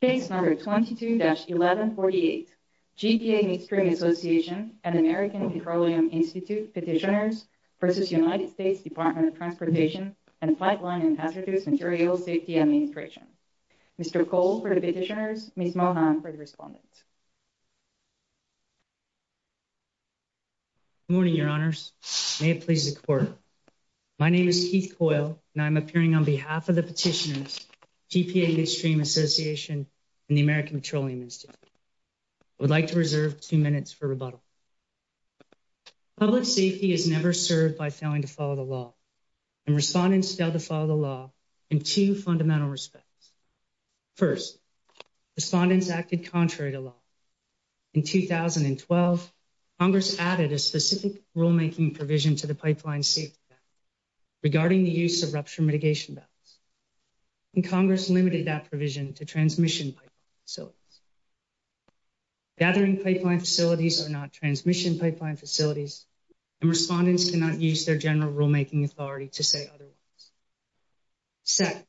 Case number 22-1148, GPA Midstream Association and American Petroleum Institute Petitioners v. United States Department of Transportation and Flightline and Hazardous Materials Safety Administration. Mr. Cole for the petitioners, Ms. Mohan for the respondents. Good morning, your honors. May it please the court. My name is Keith Coyle and I'm appearing on behalf of the petitioners, GPA Midstream Association and the American Petroleum Institute. I would like to reserve 2 minutes for rebuttal. Public safety is never served by failing to follow the law. And respondents failed to follow the law in 2 fundamental respects. First, respondents acted contrary to law. In 2012, Congress added a specific rulemaking provision to the pipeline safety act regarding the use of rupture mitigation belts. And Congress limited that provision to transmission pipeline facilities. Gathering pipeline facilities are not transmission pipeline facilities. And respondents cannot use their general rulemaking authority to say otherwise. Second,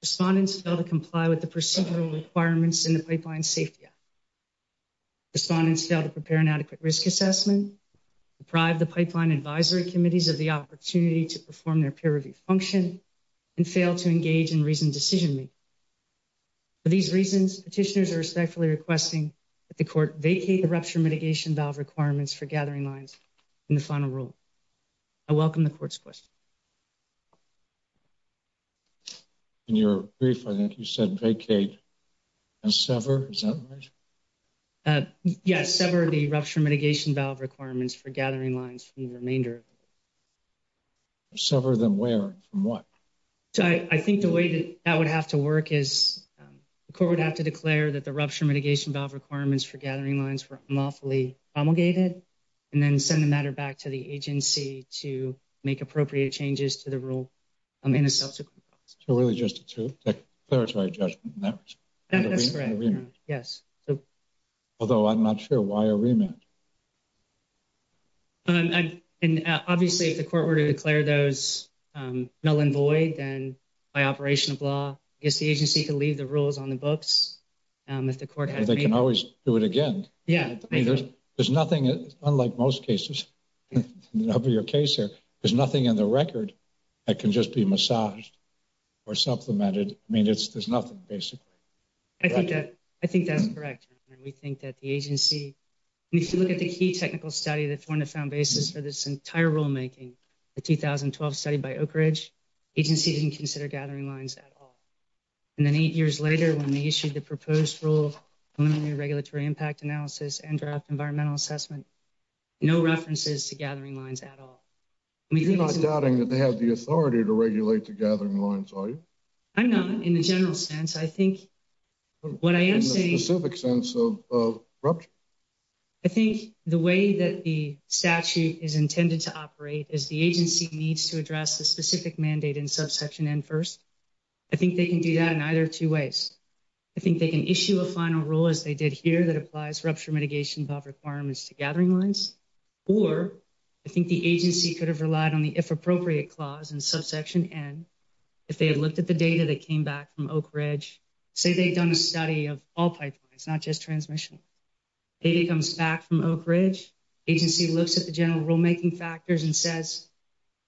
respondents fail to comply with the procedural requirements in the pipeline safety act. Respondents fail to prepare an adequate risk assessment, deprive the pipeline advisory committees of the opportunity to perform their peer review function, and fail to engage in reasoned decision making. For these reasons, petitioners are respectfully requesting that the court vacate the rupture mitigation valve requirements for gathering lines in the final rule. I welcome the court's questions. In your brief, I think you said vacate and sever. Is that right? Yes, sever the rupture mitigation valve requirements for gathering lines from the remainder. Sever them where? From what? I think the way that would have to work is the court would have to declare that the rupture mitigation valve requirements for gathering lines were unlawfully promulgated and then send the matter back to the agency to make appropriate changes to the rule in a subsequent process. So really just a declaratory judgment? That's correct, yes. Although I'm not sure why a remand? Obviously if the court were to declare those null and void, then by operation of law, I guess the agency could leave the rules on the books. They can always do it again. There's nothing, unlike most cases, there's nothing in the record that can just be massaged or supplemented. There's nothing, basically. I think that's correct. We think that the agency, if you look at the key technical study that formed the found basis for this entire rulemaking, the 2012 study by Oak Ridge, the agency didn't consider gathering lines at all. And then eight years later, when they issued the proposed rule, preliminary regulatory impact analysis and draft environmental assessment, no references to gathering lines at all. You're not doubting that they have the authority to regulate the gathering lines, are you? I'm not, in the general sense. I think what I am saying... In the specific sense of rupture? I think the way that the statute is intended to operate is the agency needs to address the specific mandate in subsection N first. I think they can do that in either two ways. I think they can issue a final rule, as they did here, that applies rupture mitigation requirements to gathering lines. Or I think the agency could have relied on the if appropriate clause in subsection N. If they had looked at the data that came back from Oak Ridge, say they'd done a study of all pipelines, not just transmission. Data comes back from Oak Ridge. Agency looks at the general rulemaking factors and says,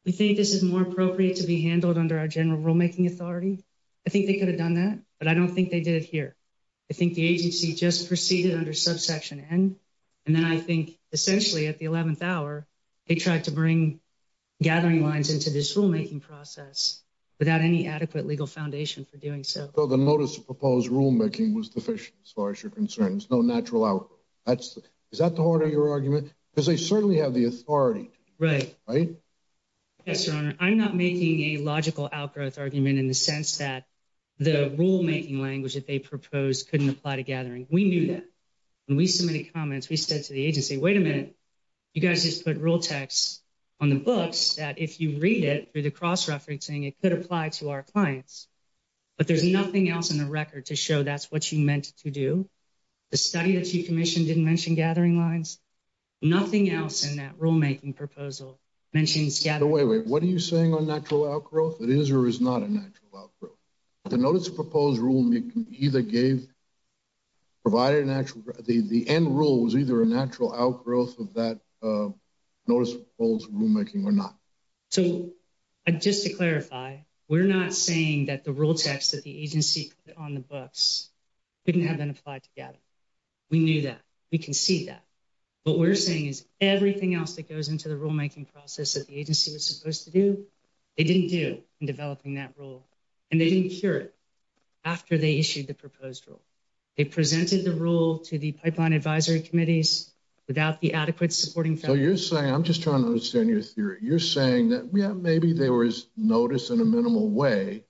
we think this is more appropriate to be handled under our general rulemaking authority. I think they could have done that, but I don't think they did it here. I think the agency just proceeded under subsection N. And then I think essentially at the 11th hour, they tried to bring gathering lines into this rulemaking process without any adequate legal foundation for doing so. So the notice of proposed rulemaking was deficient as far as you're concerned. There's no natural out. Is that the heart of your argument? Because they certainly have the authority. Right. Yes, sir. I'm not making a logical outgrowth argument in the sense that the rulemaking language that they proposed couldn't apply to gathering. We knew that when we submitted comments, we said to the agency, wait a minute. You guys just put real text on the books that if you read it through the cross referencing, it could apply to our clients. But there's nothing else in the record to show that's what you meant to do. The study that you commissioned didn't mention gathering lines. Nothing else in that rulemaking proposal mentions gathering lines. Wait, wait. What are you saying on natural outgrowth? It is or is not a natural outgrowth. The notice of proposed rulemaking either gave, provided an actual, the end rule was either a natural outgrowth of that notice of proposed rulemaking or not. So just to clarify, we're not saying that the rule text that the agency put on the books couldn't have been applied to gathering. We knew that. We can see that. What we're saying is everything else that goes into the rulemaking process that the agency was supposed to do, they didn't do in developing that rule. And they didn't cure it after they issued the proposed rule. They presented the rule to the pipeline advisory committees without the adequate supporting. So you're saying, I'm just trying to understand your theory. You're saying that, yeah, maybe there was notice in a minimal way,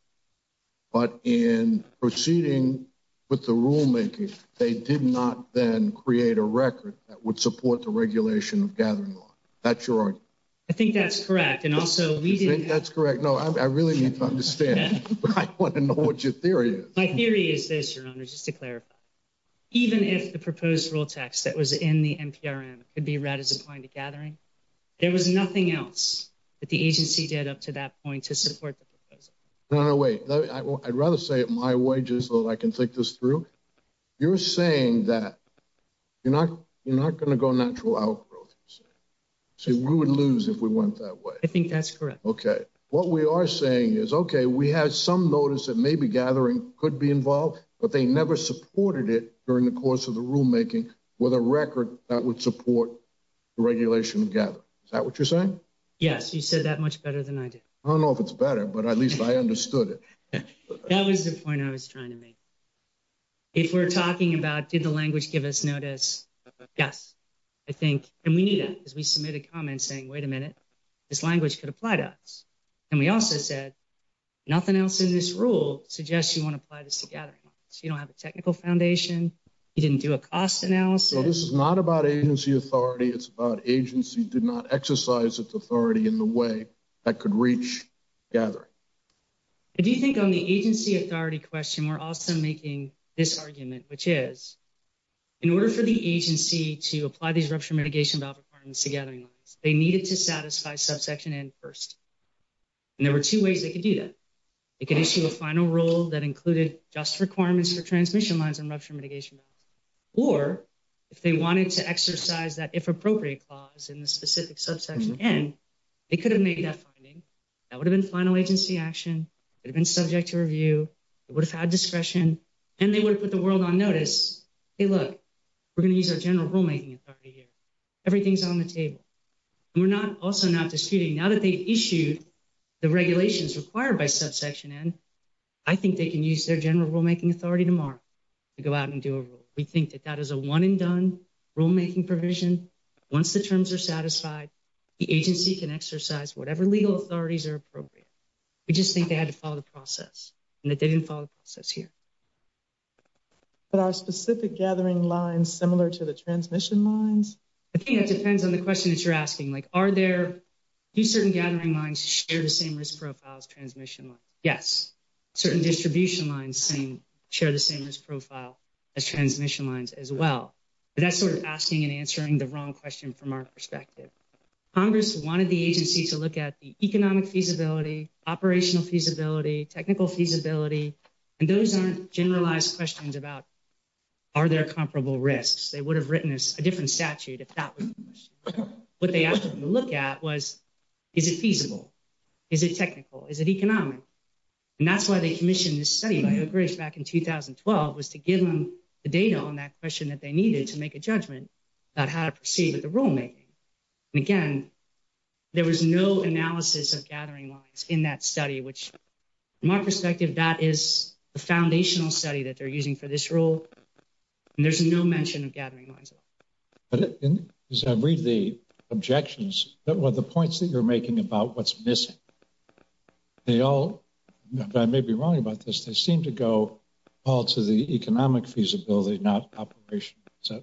but in proceeding with the rulemaking, they did not then create a record that would support the regulation of gathering law. That's your argument. I think that's correct. And also we did. I think that's correct. No, I really need to understand. I want to know what your theory is. My theory is this, Your Honor, just to clarify. Even if the proposed rule text that was in the NPRM could be read as applying to gathering, there was nothing else that the agency did up to that point to support the proposal. No, no, wait. I'd rather say it my way just so that I can think this through. You're saying that you're not going to go natural outgrowth. So we would lose if we went that way. I think that's correct. Okay. What we are saying is, okay, we have some notice that maybe gathering could be involved, but they never supported it during the course of the rulemaking with a record that would support the regulation of gathering. Is that what you're saying? Yes. You said that much better than I do. I don't know if it's better, but at least I understood it. That was the point I was trying to make. If we're talking about did the language give us notice? Yes. And we knew that because we submitted comments saying, wait a minute, this language could apply to us. And we also said nothing else in this rule suggests you want to apply this to gathering. You don't have a technical foundation. You didn't do a cost analysis. This is not about agency authority. It's about agency did not exercise its authority in the way that could reach gathering. If you think on the agency authority question, we're also making this argument, which is in order for the agency to apply these rupture mitigation requirements to gathering, they needed to satisfy subsection and first. And there were two ways they could do that. It could issue a final rule that included just requirements for transmission lines and rupture mitigation. Or if they wanted to exercise that, if appropriate clause in the specific subsection, and they could have made that finding that would have been final agency action. It had been subject to review. It would have had discretion and they would put the world on notice. Hey, look, we're going to use our general rulemaking authority here. Everything's on the table. We're not also not disputing now that they issued the regulations required by subsection. I think they can use their general rulemaking authority tomorrow to go out and do a rule. We think that that is a one and done rulemaking provision. Once the terms are satisfied, the agency can exercise whatever legal authorities are appropriate. We just think they had to follow the process and that they didn't follow the process here. But our specific gathering lines similar to the transmission lines. It depends on the question that you're asking. Like, are there do certain gathering lines share the same risk profiles transmission? Yes. Certain distribution lines share the same risk profile as transmission lines as well. That's sort of asking and answering the wrong question from our perspective. Congress wanted the agency to look at the economic feasibility, operational feasibility, technical feasibility. And those aren't generalized questions about. Are there comparable risks? They would have written this a different statute. If that was what they asked to look at was, is it feasible? Is it technical? Is it economic? And that's why they commissioned this study back in 2012 was to give them the data on that question that they needed to make a judgment about how to proceed with the rulemaking. And again, there was no analysis of gathering lines in that study, which my perspective, that is the foundational study that they're using for this rule. And there's no mention of gathering lines. I read the objections that were the points that you're making about what's missing. They all may be wrong about this. They seem to go all to the economic feasibility, not operation. So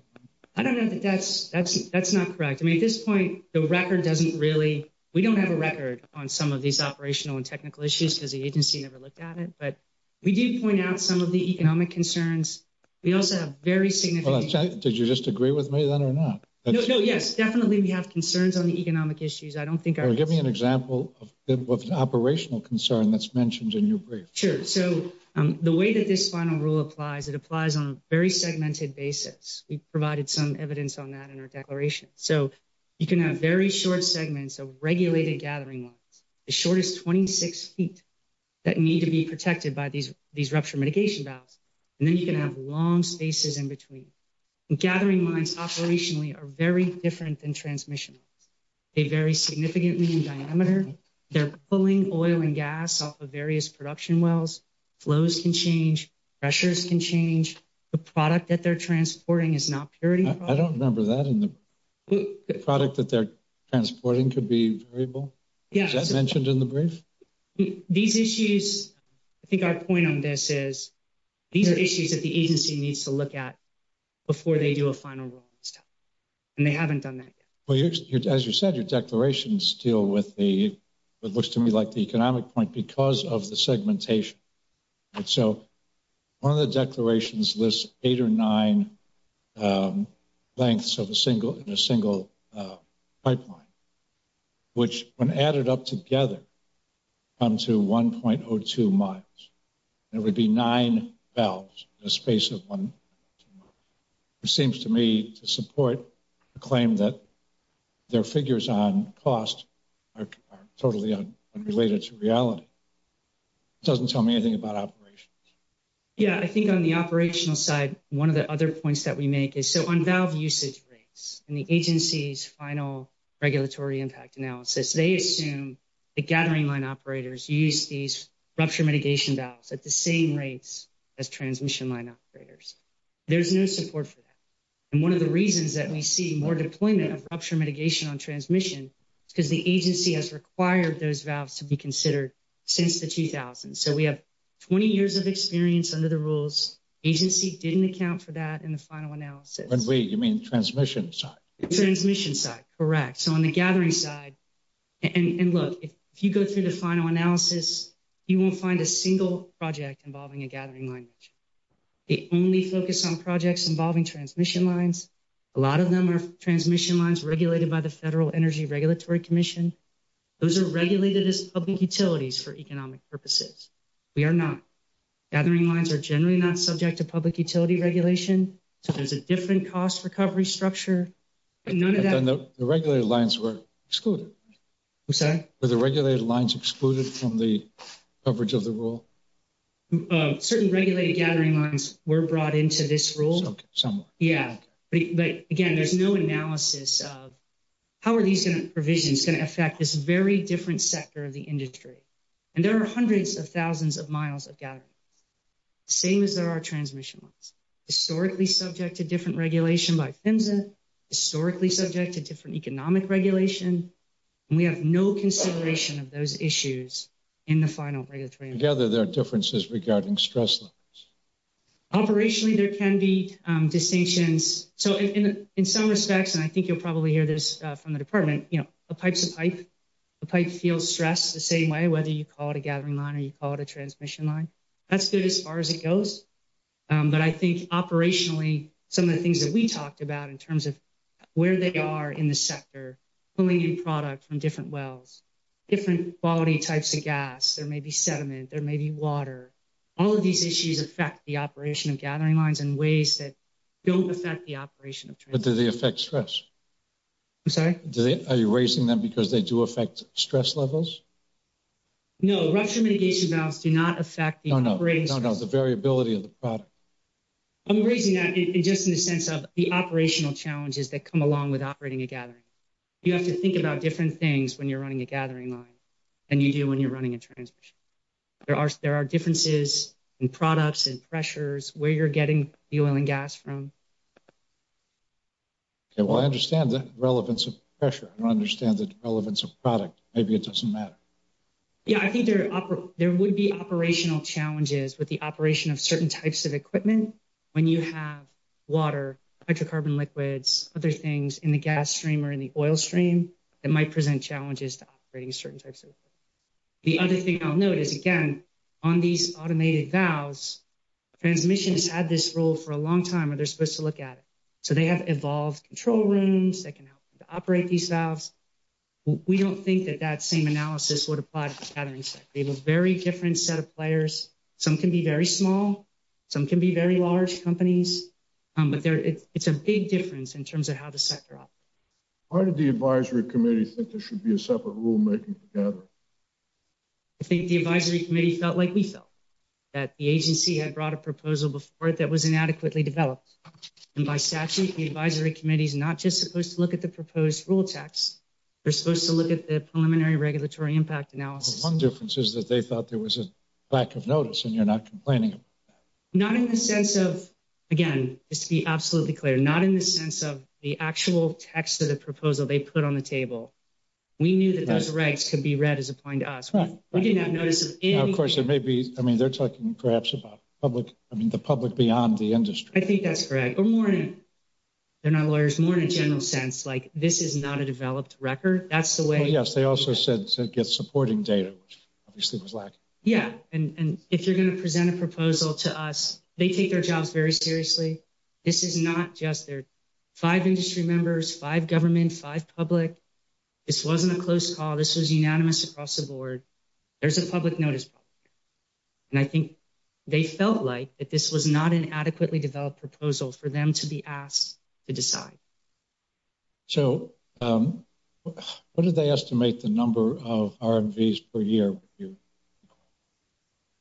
I don't know that that's that's that's not correct. I mean, at this point, the record doesn't really we don't have a record on some of these operational and technical issues because the agency never looked at it. But we do point out some of the economic concerns. We also have very significant. Did you just agree with me then or not? Yes, definitely. We have concerns on the economic issues. I don't think I would give me an example of operational concern that's mentioned in your brief. Sure. So the way that this final rule applies, it applies on a very segmented basis. We provided some evidence on that in our declaration. So you can have very short segments of regulated gathering lines. The shortest twenty six feet that need to be protected by these these rupture mitigation valves. And then you can have long spaces in between. Gathering lines operationally are very different than transmission. They vary significantly in diameter. They're pulling oil and gas off of various production wells. Flows can change. Pressures can change the product that they're transporting is not purity. I don't remember that in the product that they're transporting could be variable. Yes. Mentioned in the brief. These issues. I think our point on this is these are issues that the agency needs to look at before they do a final. And they haven't done that. Well, as you said, your declarations deal with the it looks to me like the economic point because of the segmentation. So one of the declarations lists eight or nine lengths of a single in a single pipeline, which when added up together to one point or two months, there would be nine valves, a space of one. It seems to me to support a claim that their figures on cost are totally unrelated to reality. Doesn't tell me anything about operations. Yeah, I think on the operational side, one of the other points that we make is so on valve usage rates and the agency's final regulatory impact analysis, they assume the gathering line operators use these rupture mitigation valves at the same rates as transmission line operators. There's no support for that. And one of the reasons that we see more deployment of rupture mitigation on transmission, because the agency has required those valves to be considered since the 2000s. So we have 20 years of experience under the rules. Agency didn't account for that in the final analysis. You mean transmission side? Transmission side. Correct. So on the gathering side. And look, if you go through the final analysis, you won't find a single project involving a gathering line. The only focus on projects involving transmission lines. A lot of them are transmission lines regulated by the Federal Energy Regulatory Commission. Those are regulated as public utilities for economic purposes. We are not. Gathering lines are generally not subject to public utility regulation. So there's a different cost recovery structure. The regulated lines were excluded. I'm sorry? Were the regulated lines excluded from the coverage of the rule? Certain regulated gathering lines were brought into this rule. Some were. Yeah. But again, there's no analysis of how are these provisions going to affect this very different sector of the industry. And there are hundreds of thousands of miles of gathering lines. Same as there are transmission lines. Historically subject to different regulation by PHMSA. Historically subject to different economic regulation. And we have no consideration of those issues in the final regulatory analysis. Together there are differences regarding stress levels. Operationally, there can be distinctions. So, in some respects, and I think you'll probably hear this from the department, you know, a pipe's a pipe. A pipe feels stress the same way, whether you call it a gathering line or you call it a transmission line. That's good as far as it goes. But I think operationally, some of the things that we talked about in terms of where they are in the sector, pulling in product from different wells. Different quality types of gas. There may be sediment. There may be water. All of these issues affect the operation of gathering lines in ways that don't affect the operation of transmission lines. But do they affect stress? I'm sorry? Are you raising them because they do affect stress levels? No, rupture mitigation valves do not affect the operating stress levels. No, no, the variability of the product. I'm raising that just in the sense of the operational challenges that come along with operating a gathering line. You have to think about different things when you're running a gathering line than you do when you're running a transmission line. There are differences in products and pressures, where you're getting the oil and gas from. Okay, well, I understand the relevance of pressure. I understand the relevance of product. Maybe it doesn't matter. Yeah, I think there would be operational challenges with the operation of certain types of equipment. When you have water, hydrocarbon liquids, other things in the gas stream or in the oil stream, it might present challenges to operating certain types of equipment. The other thing I'll note is, again, on these automated valves, transmission has had this role for a long time, and they're supposed to look at it. So they have evolved control rooms that can operate these valves. We don't think that that same analysis would apply to the gathering sector. They have a very different set of players. Some can be very small. Some can be very large companies. But it's a big difference in terms of how the sector operates. Why did the advisory committee think there should be a separate rulemaking for gathering? I think the advisory committee felt like we felt, that the agency had brought a proposal before it that was inadequately developed. And by statute, the advisory committee is not just supposed to look at the proposed rule text. They're supposed to look at the preliminary regulatory impact analysis. Well, one difference is that they thought there was a lack of notice, and you're not complaining about that. Not in the sense of, again, just to be absolutely clear, not in the sense of the actual text of the proposal they put on the table. We knew that those regs could be read as applying to us. We didn't have notice of anything. Now, of course, there may be, I mean, they're talking perhaps about public, I mean, the public beyond the industry. I think that's correct. Or more in, they're not lawyers, more in a general sense. Like, this is not a developed record. That's the way. Well, yes, they also said to get supporting data, which obviously was lacking. Yeah. And if you're going to present a proposal to us, they take their jobs very seriously. This is not just their five industry members, five government, five public. This wasn't a close call. This was unanimous across the board. There's a public notice. And I think they felt like that this was not an adequately developed proposal for them to be asked to decide. So what did they estimate the number of RVs per year?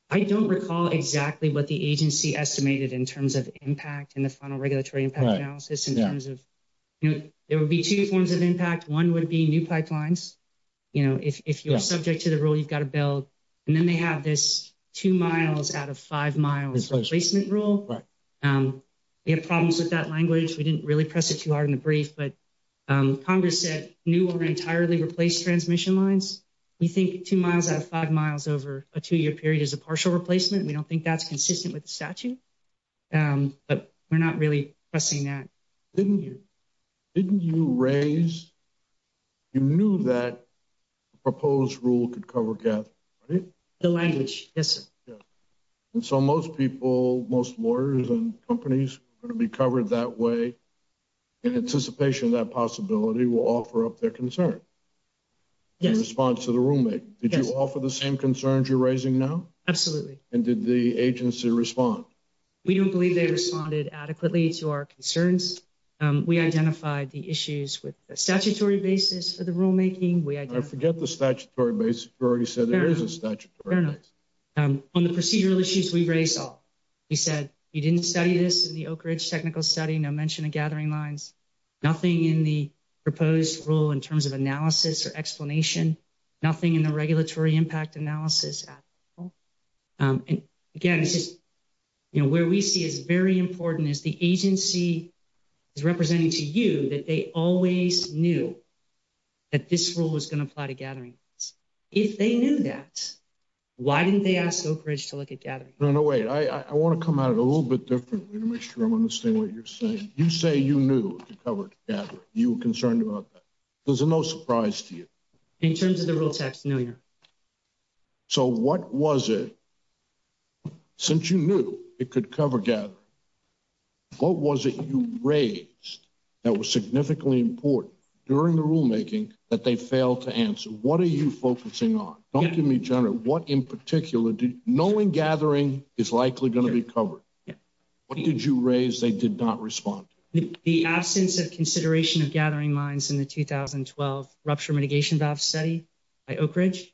I don't recall exactly what the agency estimated in terms of impact in the final regulatory impact analysis in terms of there would be two forms of impact. One would be new pipelines. You know, if you're subject to the rule, you've got to build. And then they have this two miles out of five miles replacement rule. You have problems with that language. We didn't really press it too hard in the brief, but Congress said new or entirely replaced transmission lines. We think two miles out of five miles over a two year period is a partial replacement. We don't think that's consistent with the statute, but we're not really pressing that. Didn't you didn't you raise. You knew that proposed rule could cover the language. Yes. And so most people, most lawyers and companies are going to be covered that way. In anticipation, that possibility will offer up their concern. In response to the roommate, did you offer the same concerns you're raising now? Absolutely. And did the agency respond? We don't believe they responded adequately to our concerns. We identified the issues with a statutory basis for the rulemaking. We forget the statutory basis. We already said there is a statute on the procedural issues we've raised. So you said you didn't study this in the Oak Ridge technical study. No mention of gathering lines. Nothing in the proposed rule in terms of analysis or explanation. Nothing in the regulatory impact analysis. Again, this is where we see is very important is the agency is representing to you that they always knew that this rule was going to apply to gathering. If they knew that, why didn't they ask Oak Ridge to look at gathering? No, no way. I want to come out a little bit different. I'm going to say what you're saying. You say you knew you were concerned about that. There's no surprise to you in terms of the real text. So what was it? Since you knew it could cover gathering. What was it you raised that was significantly important during the rulemaking that they failed to answer? What are you focusing on? Don't give me general. What in particular? Knowing gathering is likely going to be covered. What did you raise? They did not respond. The absence of consideration of gathering lines in the 2012 rupture mitigation valve study by Oak Ridge.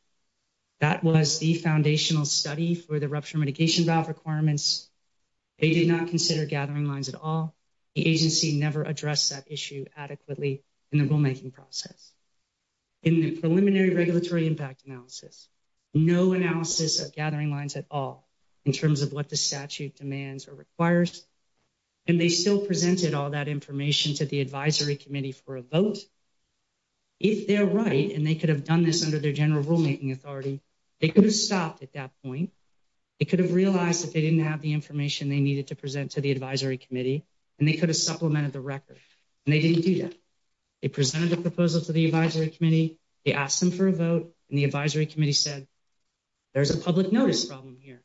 That was the foundational study for the rupture mitigation valve requirements. They did not consider gathering lines at all. The agency never addressed that issue adequately in the rulemaking process. In the preliminary regulatory impact analysis, no analysis of gathering lines at all in terms of what the statute demands or requires. And they still presented all that information to the advisory committee for a vote. If they're right, and they could have done this under their general rulemaking authority, they could have stopped at that point. It could have realized that they didn't have the information they needed to present to the advisory committee, and they could have supplemented the record. And they didn't do that. They presented a proposal to the advisory committee. They asked them for a vote, and the advisory committee said, there's a public notice problem here,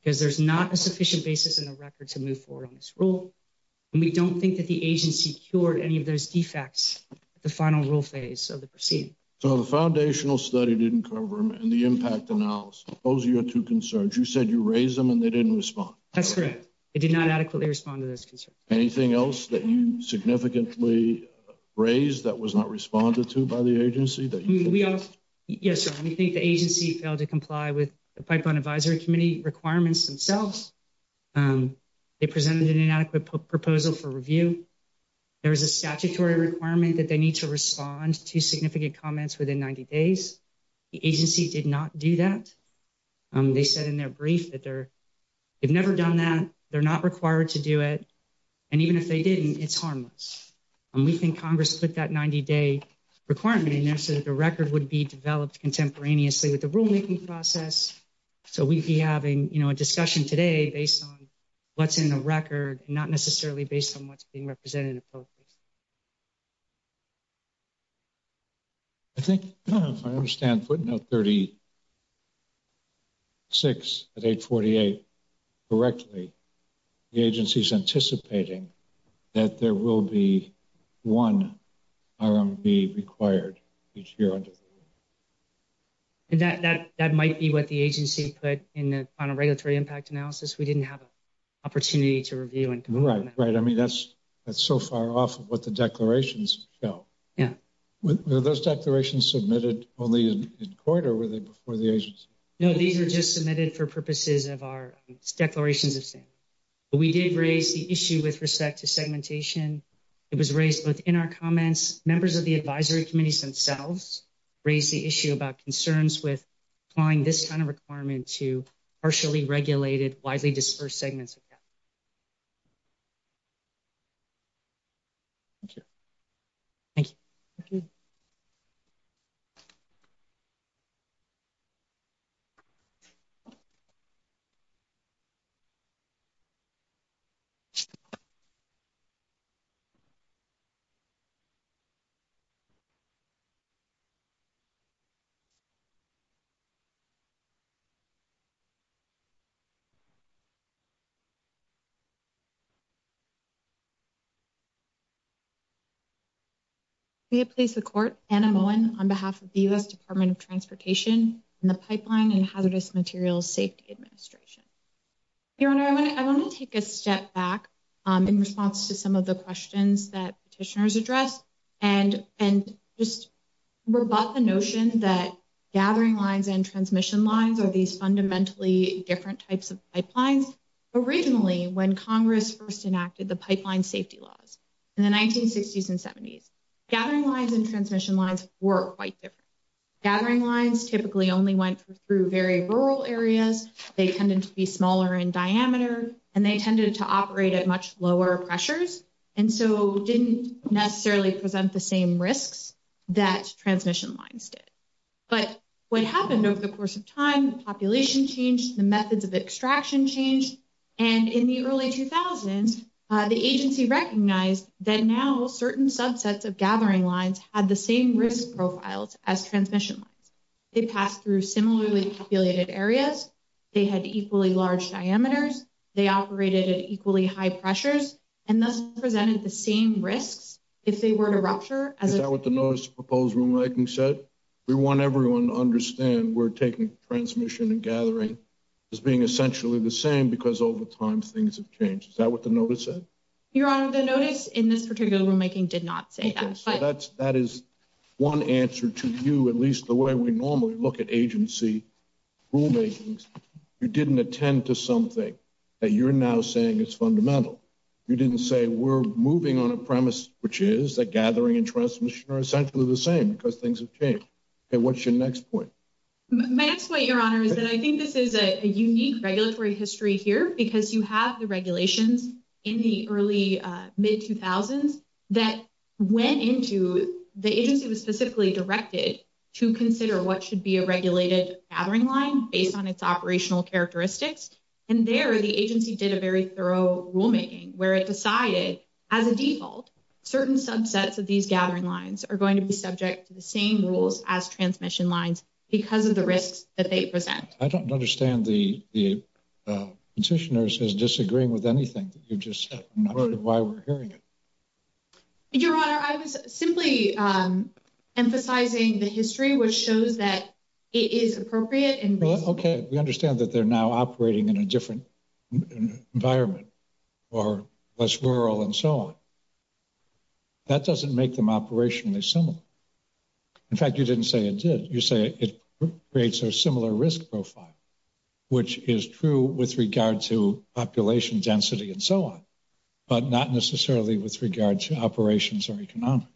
because there's not a sufficient basis in the record to move forward on this rule. And we don't think that the agency cured any of those defects at the final rule phase of the proceeding. So the foundational study didn't cover them, and the impact analysis, those are your two concerns. You said you raised them, and they didn't respond. That's correct. They did not adequately respond to those concerns. Anything else that you significantly raised that was not responded to by the agency? Yes, sir. We think the agency failed to comply with the pipeline advisory committee requirements themselves. They presented an inadequate proposal for review. There was a statutory requirement that they need to respond to significant comments within 90 days. The agency did not do that. They said in their brief that they've never done that. They're not required to do it. And even if they didn't, it's harmless. And we think Congress put that 90-day requirement in there so that the record would be developed contemporaneously with the rulemaking process. So we'd be having, you know, a discussion today based on what's in the record and not necessarily based on what's being represented appropriately. I think if I understand putting out 36 at 848 correctly, the agency is anticipating that there will be one RMB required each year under the rule. And that might be what the agency put on a regulatory impact analysis. We didn't have an opportunity to review and comment. Right. I mean, that's so far off of what the declarations show. Yeah. Were those declarations submitted only in court or were they before the agency? No, these were just submitted for purposes of our declarations of standing. But we did raise the issue with respect to segmentation. It was raised both in our comments. Members of the advisory committees themselves raised the issue about concerns with applying this kind of requirement to partially regulated, widely dispersed segments. Thank you. Thank you. We have placed the court, Anna Moen, on behalf of the U.S. Department of Transportation and the Pipeline and Hazardous Materials Safety Administration. Your Honor, I want to take a step back in response to some of the questions that petitioners addressed and just rebut the notion that gathering lines and transmission lines are these fundamentally different types of pipelines. Originally, when Congress first enacted the pipeline safety laws in the 1960s and 70s, gathering lines and transmission lines were quite different. Gathering lines typically only went through very rural areas. They tended to be smaller in diameter and they tended to operate at much lower pressures and so didn't necessarily present the same risks that transmission lines did. But what happened over the course of time, the population changed, the methods of extraction changed, and in the early 2000s, the agency recognized that now certain subsets of gathering lines had the same risk profiles as transmission lines. They passed through similarly populated areas. They had equally large diameters. They operated at equally high pressures and thus presented the same risks if they were to rupture. Is that what the notice of proposed rulemaking said? We want everyone to understand we're taking transmission and gathering as being essentially the same because over time things have changed. Is that what the notice said? Your Honor, the notice in this particular rulemaking did not say that. Okay, so that is one answer to you, at least the way we normally look at agency rulemakings. You didn't attend to something that you're now saying is fundamental. You didn't say we're moving on a premise which is that gathering and transmission are essentially the same because things have changed. Okay, what's your next point? My next point, Your Honor, is that I think this is a unique regulatory history here because you have the regulations in the early, mid-2000s that went into, the agency was specifically directed to consider what should be a regulated gathering line based on its operational characteristics. And there, the agency did a very thorough rulemaking where it decided, as a default, certain subsets of these gathering lines are going to be subject to the same rules as transmission lines because of the risks that they present. I don't understand the petitioner's disagreeing with anything that you just said. I'm not sure why we're hearing it. Your Honor, I was simply emphasizing the history, which shows that it is appropriate. Okay, we understand that they're now operating in a different environment or less rural and so on. That doesn't make them operationally similar. In fact, you didn't say it did. You say it creates a similar risk profile, which is true with regard to population density and so on, but not necessarily with regard to operations or economics.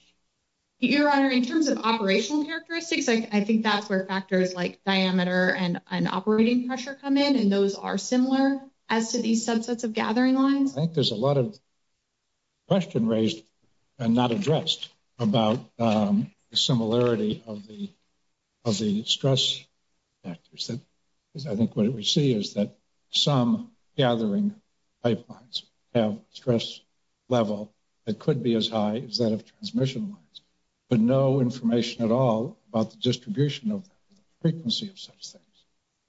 Your Honor, in terms of operational characteristics, I think that's where factors like diameter and operating pressure come in, and those are similar as to these subsets of gathering lines. I think there's a lot of question raised and not addressed about the similarity of the stress factors. I think what we see is that some gathering pipelines have stress level that could be as high as that of transmission lines, but no information at all about the distribution of frequency of such things.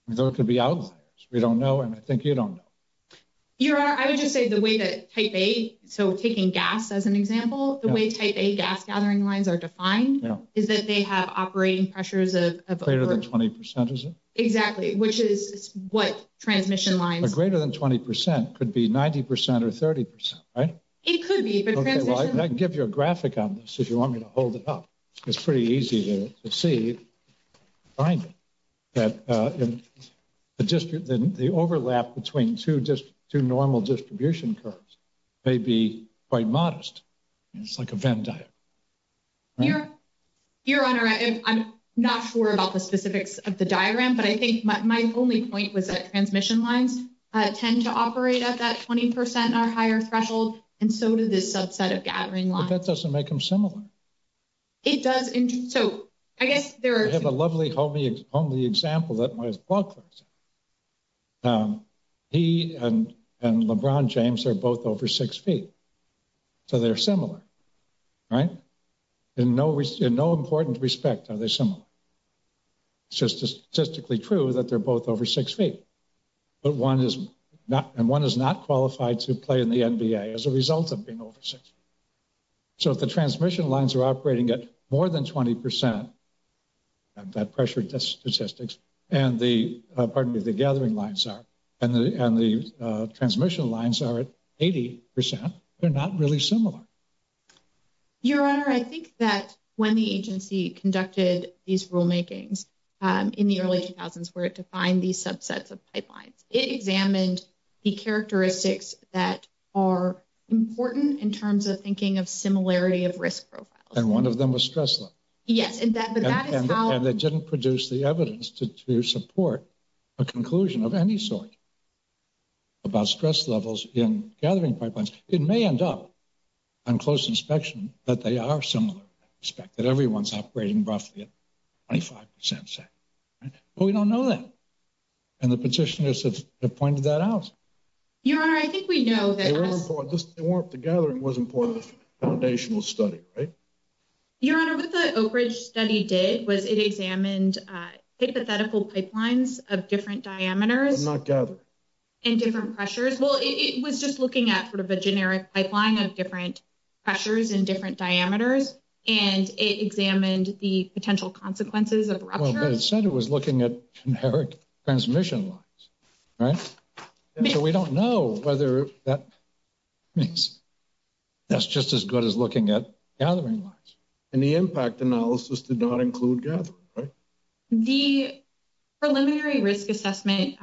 There could be outliers. We don't know, and I think you don't know. Your Honor, I would just say the way that type A, so taking gas as an example, the way type A gas gathering lines are defined is that they have operating pressures of greater than 20%. Exactly, which is what transmission lines are greater than 20% could be 90% or 30%, right? It could be, but I can give you a graphic on this if you want me to hold it up. It's pretty easy to see that the overlap between two normal distribution curves may be quite modest. It's like a Venn diagram. Your Honor, I'm not sure about the specifics of the diagram, but I think my only point was that transmission lines tend to operate at that 20% or higher threshold, and so do this subset of gathering lines. But that doesn't make them similar. It does, and so I guess there are... I have a lovely, homely example that my book. He and LeBron James are both over six feet, so they're similar, right? In no important respect are they similar. It's just statistically true that they're both over six feet, and one is not qualified to play in the NBA as a result of being over six feet. So if the transmission lines are operating at more than 20%, that pressure statistics, and the, pardon me, the gathering lines are, and the transmission lines are at 80%, they're not really similar. Your Honor, I think that when the agency conducted these rulemakings in the early 2000s where it defined these subsets of pipelines, it examined the characteristics that are important in terms of thinking of similarity of risk profiles. And one of them was stress level. Yes, but that is how... ...on close inspection that they are similar in that respect, that everyone's operating roughly at 25%, right? But we don't know that, and the petitioners have pointed that out. Your Honor, I think we know that... They weren't important. The gathering was important in the foundational study, right? Your Honor, what the Oak Ridge study did was it examined hypothetical pipelines of different diameters... And not gathering. ...and different pressures. Well, it was just looking at sort of a generic pipeline of different pressures and different diameters, and it examined the potential consequences of rupture. Well, but it said it was looking at generic transmission lines, right? So we don't know whether that means that's just as good as looking at gathering lines. And the impact analysis did not include gathering, right? The preliminary risk assessment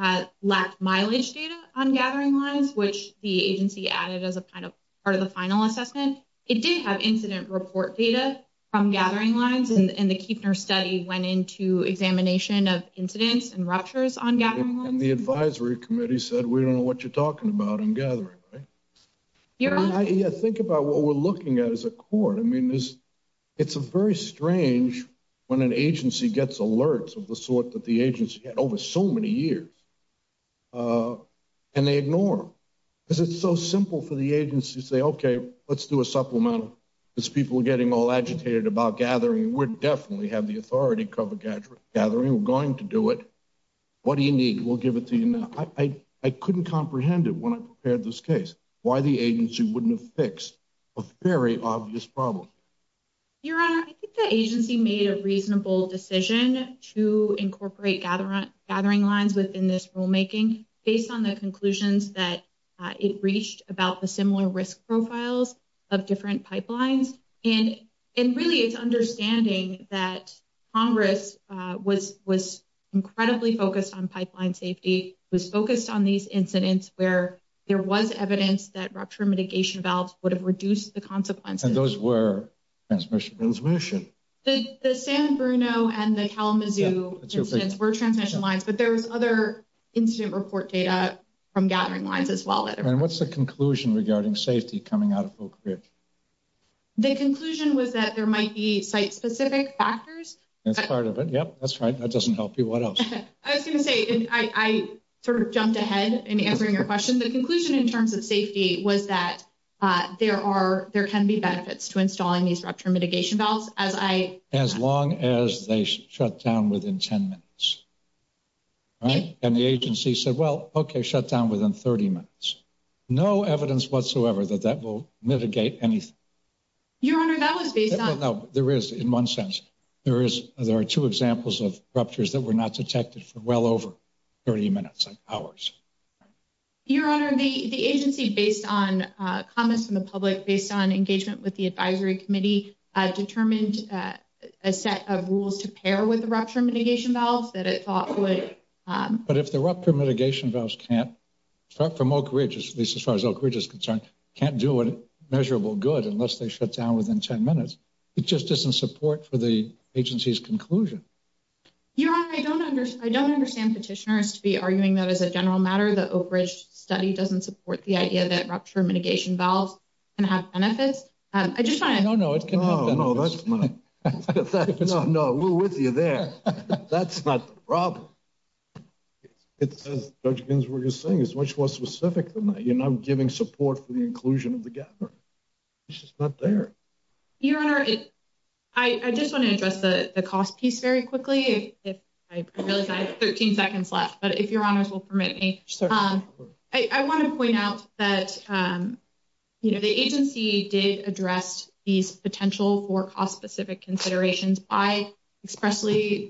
lacked mileage data on gathering lines, which the agency added as a part of the final assessment. It did have incident report data from gathering lines, and the Kueffner study went into examination of incidents and ruptures on gathering lines. And the advisory committee said, we don't know what you're talking about on gathering, right? Your Honor... Yeah, think about what we're looking at as a court. I mean, it's very strange when an agency gets alerts of the sort that the agency had over so many years, and they ignore them. Because it's so simple for the agency to say, okay, let's do a supplemental. These people are getting all agitated about gathering. We definitely have the authority to cover gathering. We're going to do it. What do you need? We'll give it to you now. I couldn't comprehend it when I prepared this case, why the agency wouldn't have fixed a very obvious problem. Your Honor, I think the agency made a reasonable decision to incorporate gathering lines within this rulemaking, based on the conclusions that it reached about the similar risk profiles of different pipelines. And really, it's understanding that Congress was incredibly focused on pipeline safety, was focused on these incidents where there was evidence that rupture mitigation valves would have reduced the consequences. And those were transmission lines. The San Bruno and the Kalamazoo incidents were transmission lines, but there was other incident report data from gathering lines as well. And what's the conclusion regarding safety coming out of Oak Ridge? The conclusion was that there might be site-specific factors. That's part of it. Yep, that's right. That doesn't help you. What else? I was going to say, I sort of jumped ahead in answering your question. The conclusion in terms of safety was that there can be benefits to installing these rupture mitigation valves. As long as they shut down within 10 minutes. And the agency said, well, OK, shut down within 30 minutes. No evidence whatsoever that that will mitigate anything. Your Honor, that was based on... No, there is, in one sense. There are two examples of ruptures that were not detected for well over 30 minutes, hours. Your Honor, the agency, based on comments from the public, based on engagement with the advisory committee, determined a set of rules to pair with the rupture mitigation valves that it thought would... But if the rupture mitigation valves can't, start from Oak Ridge, at least as far as Oak Ridge is concerned, can't do a measurable good unless they shut down within 10 minutes, it just isn't support for the agency's conclusion. Your Honor, I don't understand petitioners to be arguing that as a general matter, the Oak Ridge study doesn't support the idea that rupture mitigation valves can have benefits. I just want to... No, no, it can have benefits. No, no, that's not... No, no, we're with you there. That's not the problem. As Judge Ginsburg was saying, it's much more specific than that. You're not giving support for the inclusion of the gathering. It's just not there. Your Honor, I just want to address the cost piece very quickly. I realize I have 13 seconds left, but if Your Honors will permit me. Certainly. I want to point out that the agency did address these potential for cost-specific considerations by expressly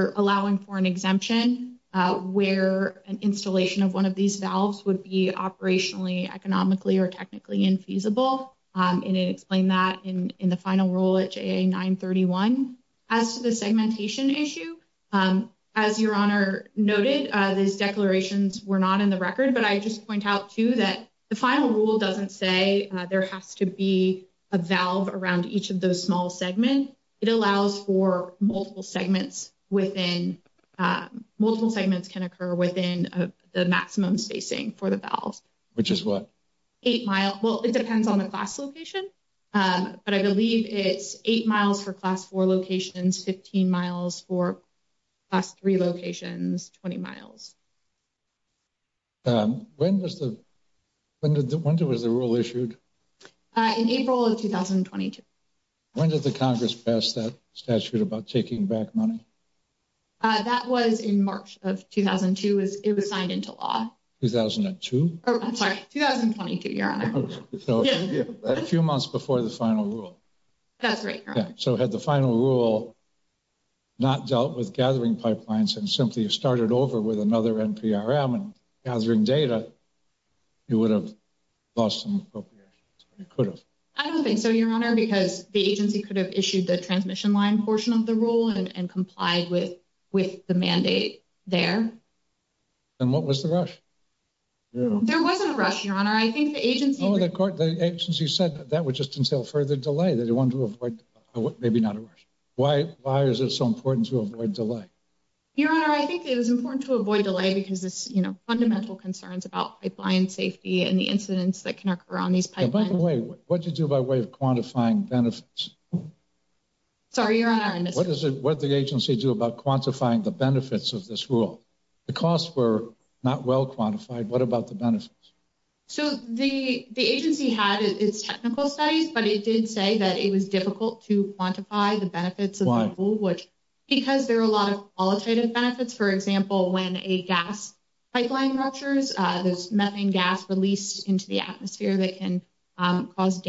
allowing for an exemption where an installation of one of these valves would be operationally, economically, or technically infeasible, and it explained that in the final rule at JA-931. As to the segmentation issue, as Your Honor noted, these declarations were not in the record, but I just point out, too, that the final rule doesn't say there has to be a valve around each of those small segments. It allows for multiple segments within... Multiple segments can occur within the maximum spacing for the valves. Which is what? Well, it depends on the class location, but I believe it's 8 miles for Class 4 locations, 15 miles for Class 3 locations, 20 miles. When was the rule issued? In April of 2022. When did the Congress pass that statute about taking back money? That was in March of 2002. It was signed into law. 2002? I'm sorry, 2022, Your Honor. A few months before the final rule. That's right, Your Honor. So had the final rule not dealt with gathering pipelines and simply started over with another NPRM and gathering data, it would have lost some appropriations. It could have. I don't think so, Your Honor, because the agency could have issued the transmission line portion of the rule and complied with the mandate there. And what was the rush? There wasn't a rush, Your Honor. I think the agency... Oh, the agency said that would just entail further delay. They wanted to avoid... Maybe not a rush. Why is it so important to avoid delay? Your Honor, I think it was important to avoid delay because it's, you know, fundamental concerns about pipeline safety and the incidents that can occur on these pipelines. By the way, what did you do by way of quantifying benefits? Sorry, Your Honor, I missed it. What did the agency do about quantifying the benefits of this rule? The costs were not well quantified. What about the benefits? So the agency had its technical studies, but it did say that it was difficult to quantify the benefits of the rule. Why? Because there are a lot of qualitative benefits. For example, when a gas pipeline ruptures, there's methane gas released into the atmosphere that can cause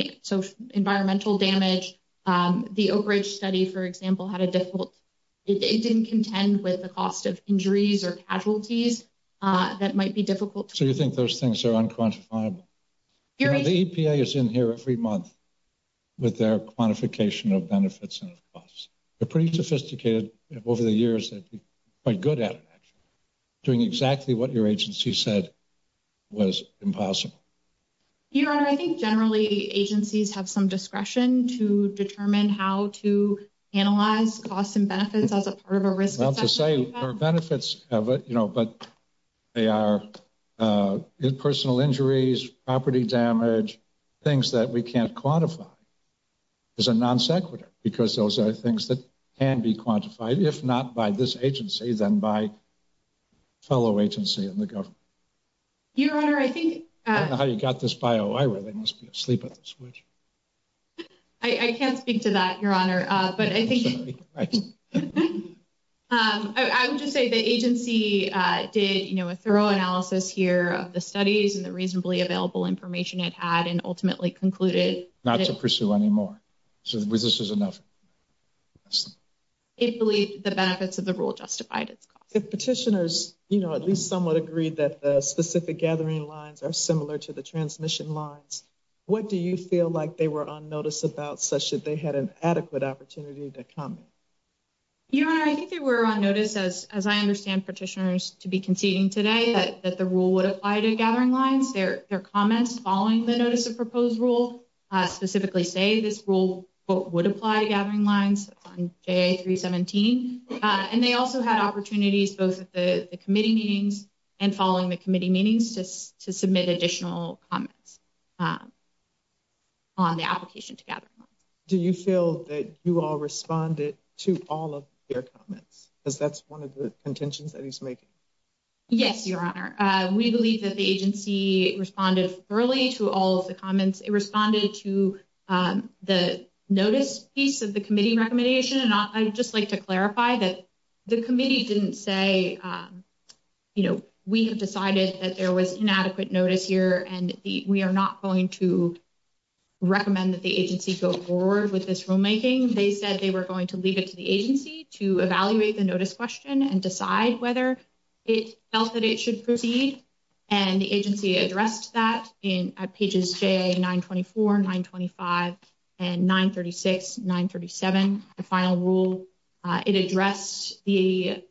environmental damage. The Oak Ridge study, for example, had a difficult... It didn't contend with the cost of injuries or casualties that might be difficult to quantify. So you think those things are unquantifiable? The EPA is in here every month with their quantification of benefits and costs. They're pretty sophisticated. Over the years, they've been quite good at it, actually. Doing exactly what your agency said was impossible. Your Honor, I think generally agencies have some discretion to determine how to analyze costs and benefits as a part of a risk assessment. Not to say there are benefits, but they are personal injuries, property damage, things that we can't quantify as a non sequitur. Because those are things that can be quantified, if not by this agency, then by fellow agency in the government. Your Honor, I think... I don't know how you got this bio. I really must be asleep at this point. I can't speak to that, Your Honor. I'm sorry. I would just say the agency did a thorough analysis here of the studies and the reasonably available information it had and ultimately concluded... Not to pursue any more. So this is enough. It believed the benefits of the rule justified its cost. If petitioners at least somewhat agreed that the specific gathering lines are similar to the transmission lines, what do you feel like they were on notice about such that they had an adequate opportunity to comment? Your Honor, I think they were on notice, as I understand petitioners to be conceding today, that the rule would apply to gathering lines. Their comments following the Notice of Proposed Rule specifically say this rule would apply to gathering lines on JA 317. And they also had opportunities, both at the committee meetings and following the committee meetings, to submit additional comments on the application to gather lines. Do you feel that you all responded to all of their comments? Because that's one of the contentions that he's making. Yes, Your Honor. We believe that the agency responded thoroughly to all of the comments. It responded to the notice piece of the committee recommendation. And I'd just like to clarify that the committee didn't say, you know, we have decided that there was inadequate notice here, and we are not going to recommend that the agency go forward with this rulemaking. They said they were going to leave it to the agency to evaluate the notice question and decide whether it felt that it should proceed. And the agency addressed that in pages JA 924, 925, and 936, 937, the final rule. It addressed the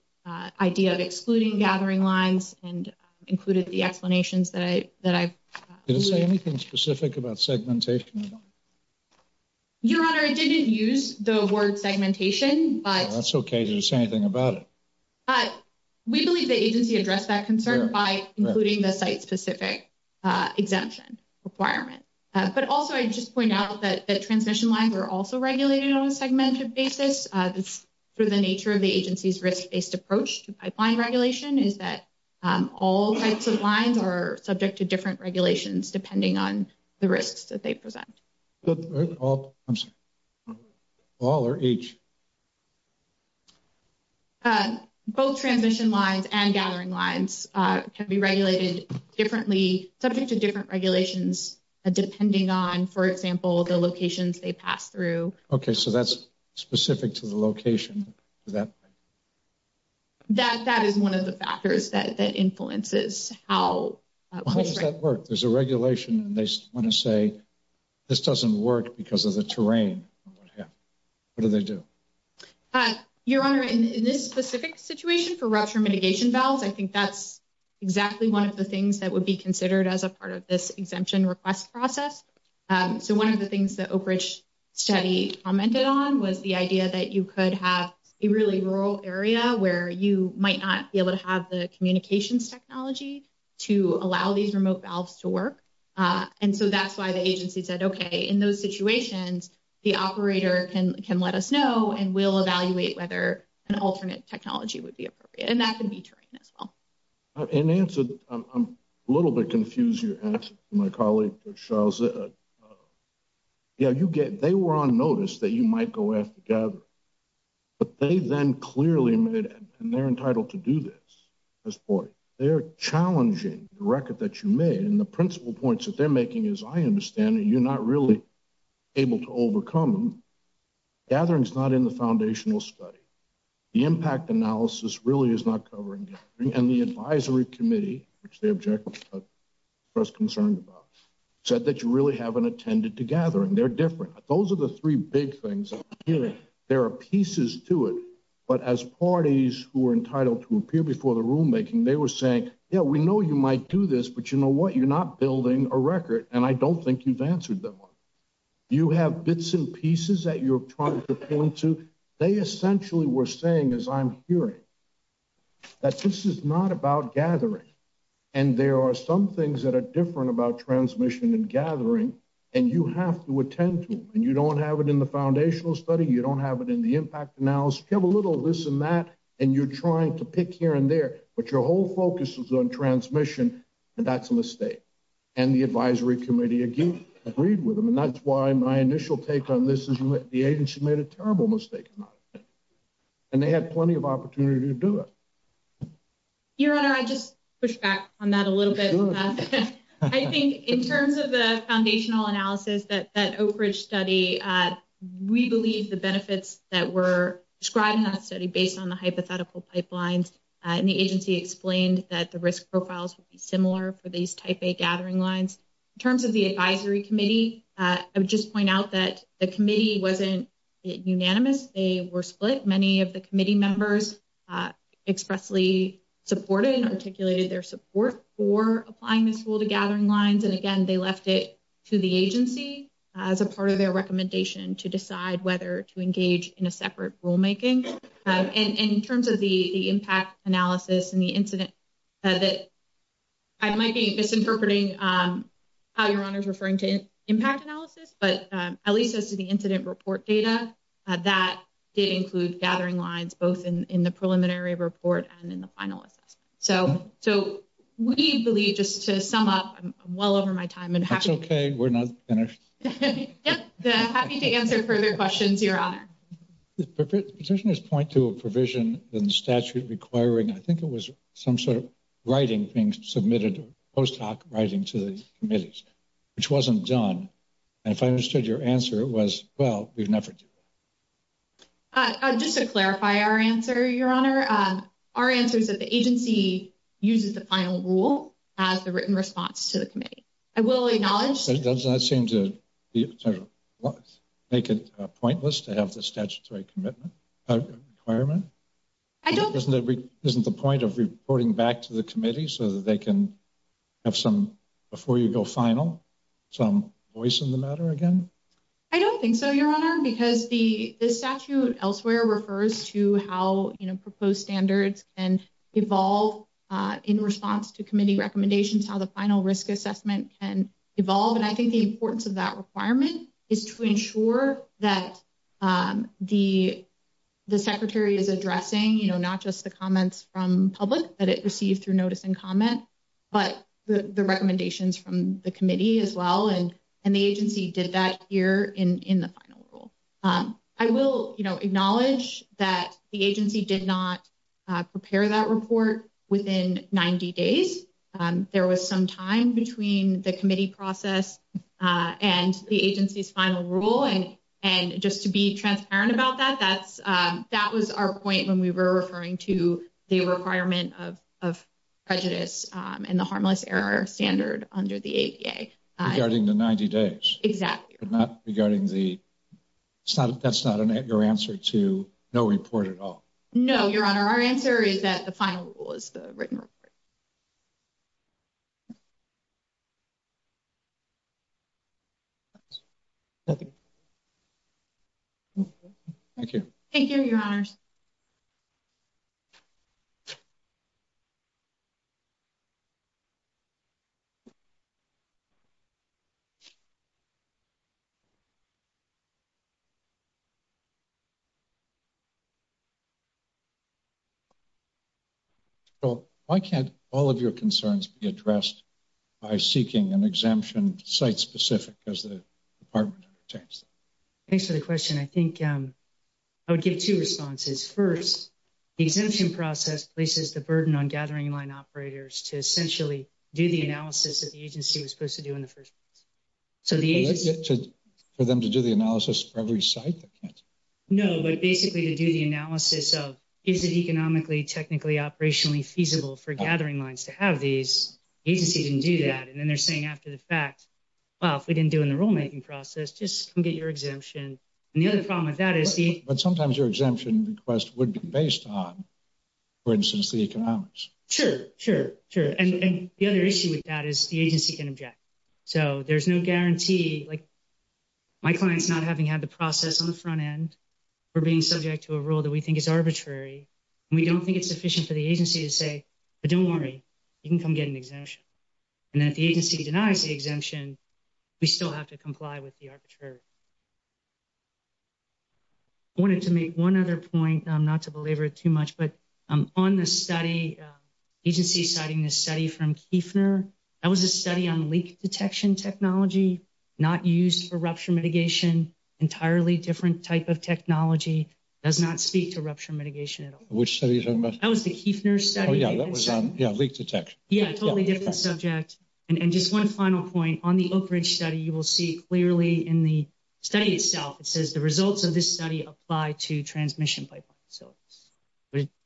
idea of excluding gathering lines and included the explanations that I've included. Did it say anything specific about segmentation? Your Honor, it didn't use the word segmentation. That's okay. Did it say anything about it? We believe the agency addressed that concern by including the site-specific exemption requirement. But also, I'd just point out that transmission lines are also regulated on a segmented basis. That's through the nature of the agency's risk-based approach to pipeline regulation, is that all types of lines are subject to different regulations depending on the risks that they present. I'm sorry. All or each? Both transmission lines and gathering lines can be regulated differently, subject to different regulations depending on, for example, the locations they pass through. Okay, so that's specific to the location. That is one of the factors that influences how. How does that work? There's a regulation, and they want to say, this doesn't work because of the terrain. What do they do? Your Honor, in this specific situation for rupture mitigation valves, I think that's exactly one of the things that would be considered as a part of this exemption request process. So one of the things that Oak Ridge study commented on was the idea that you could have a really rural area where you might not be able to have the communications technology to allow these remote valves to work. And so that's why the agency said, okay, in those situations, the operator can let us know and we'll evaluate whether an alternate technology would be appropriate. And that can be terrain as well. In answer, I'm a little bit confused. My colleague, Charles, they were on notice that you might go after the gatherer. But they then clearly made it, and they're entitled to do this. They're challenging the record that you made, and the principle points that they're making is, I understand that you're not really able to overcome them. Gathering's not in the foundational study. The impact analysis really is not covering gathering. And the advisory committee, which the object was concerned about, said that you really haven't attended the gathering. They're different. Those are the three big things. There are pieces to it, but as parties who are entitled to appear before the rulemaking, they were saying, yeah, we know you might do this, but you know what? You're not building a record, and I don't think you've answered that one. You have bits and pieces that you're trying to point to. They essentially were saying, as I'm hearing, that this is not about gathering. And there are some things that are different about transmission and gathering, and you have to attend to them. And you don't have it in the foundational study. You don't have it in the impact analysis. You have a little of this and that, and you're trying to pick here and there, but your whole focus is on transmission, and that's a mistake. And the advisory committee agreed with them, and that's why my initial take on this is the agency made a terrible mistake. And they had plenty of opportunity to do it. Your Honor, I'd just push back on that a little bit. I think in terms of the foundational analysis, that Oak Ridge study, we believe the benefits that were described in that study based on the hypothetical pipelines, and the agency explained that the risk profiles would be similar for these type A gathering lines. In terms of the advisory committee, I would just point out that the committee wasn't unanimous. They were split. Many of the committee members expressly supported and articulated their support for applying this rule to gathering lines. And again, they left it to the agency as a part of their recommendation to decide whether to engage in a separate rulemaking. And in terms of the impact analysis and the incident, I might be misinterpreting how Your Honor is referring to impact analysis, but at least as to the incident report data, that did include gathering lines both in the preliminary report and in the study. So we believe, just to sum up, I'm well over my time. That's okay. We're not finished. I'm happy to answer further questions, Your Honor. Petitioners point to a provision in the statute requiring, I think it was some sort of writing being submitted, post-hoc writing to the committees, which wasn't done. And if I understood your answer, it was, well, we've never done that. Just to clarify our answer, Your Honor, our answer is that the agency uses the final rule as the written response to the committee. I will acknowledge. It does not seem to make it pointless to have the statutory commitment requirement. Isn't the point of reporting back to the committee so that they can have some, before you go final, some voice in the matter again? I don't think so, Your Honor, because the statute elsewhere refers to how, you know, proposed standards can evolve in response to committee recommendations, how the final risk assessment can evolve. And I think the importance of that requirement is to ensure that the secretary is addressing, you know, not just the comments from public that it received through notice and comment, but the recommendations from the committee as well. And the agency did that here in the final rule. I will, you know, acknowledge that the agency did not prepare that report within 90 days. There was some time between the committee process and the agency's final rule. And just to be transparent about that, that was our point when we were referring to the requirement of prejudice and the harmless error standard under the ADA. Regarding the 90 days. Exactly. But not regarding the, that's not your answer to no report at all. No, Your Honor. Our answer is that the final rule is the written report. Thank you. Thank you, Your Honors. Thank you. Well, why can't all of your concerns be addressed by seeking an exemption site specific as the department. Thanks for the question. I think. I would give two responses. First, the exemption process places the burden on gathering line operators to essentially do the analysis that the agency was supposed to do in the first place. So for them to do the analysis for every site. No, but basically to do the analysis of, is it economically, technically operationally feasible for gathering lines to have these agencies and do that. And then they're saying after the fact, well, if we didn't do in the rulemaking process, just get your exemption. And the other problem with that is the, but sometimes your exemption request would be based on for instance, the economics. Sure. Sure. Sure. And the other issue with that is the agency can object. So there's no guarantee. Like my client's not having had the process on the front end. We're being subject to a rule that we think is arbitrary. And we don't think it's sufficient for the agency to say, but don't worry. You can come get an exemption. And then if the agency denies the exemption, we still have to comply with the arbitrary. I wanted to make one other point. I'm not to belabor it too much, but I'm on the study agency citing this study from Kiefner. That was a study on leak detection technology, not used for rupture mitigation, entirely different type of technology does not speak to rupture mitigation at all. That was the Kiefner study. Yeah. Yeah. Leak detection. Yeah. Totally different subject. And just one final point on the Oak Ridge study, you will see clearly in the study itself, it says the results of this study apply to transmission pipeline. So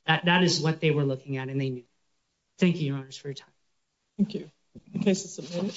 that is what they were looking at and they knew. Thank you, your honors for your time. Thank you.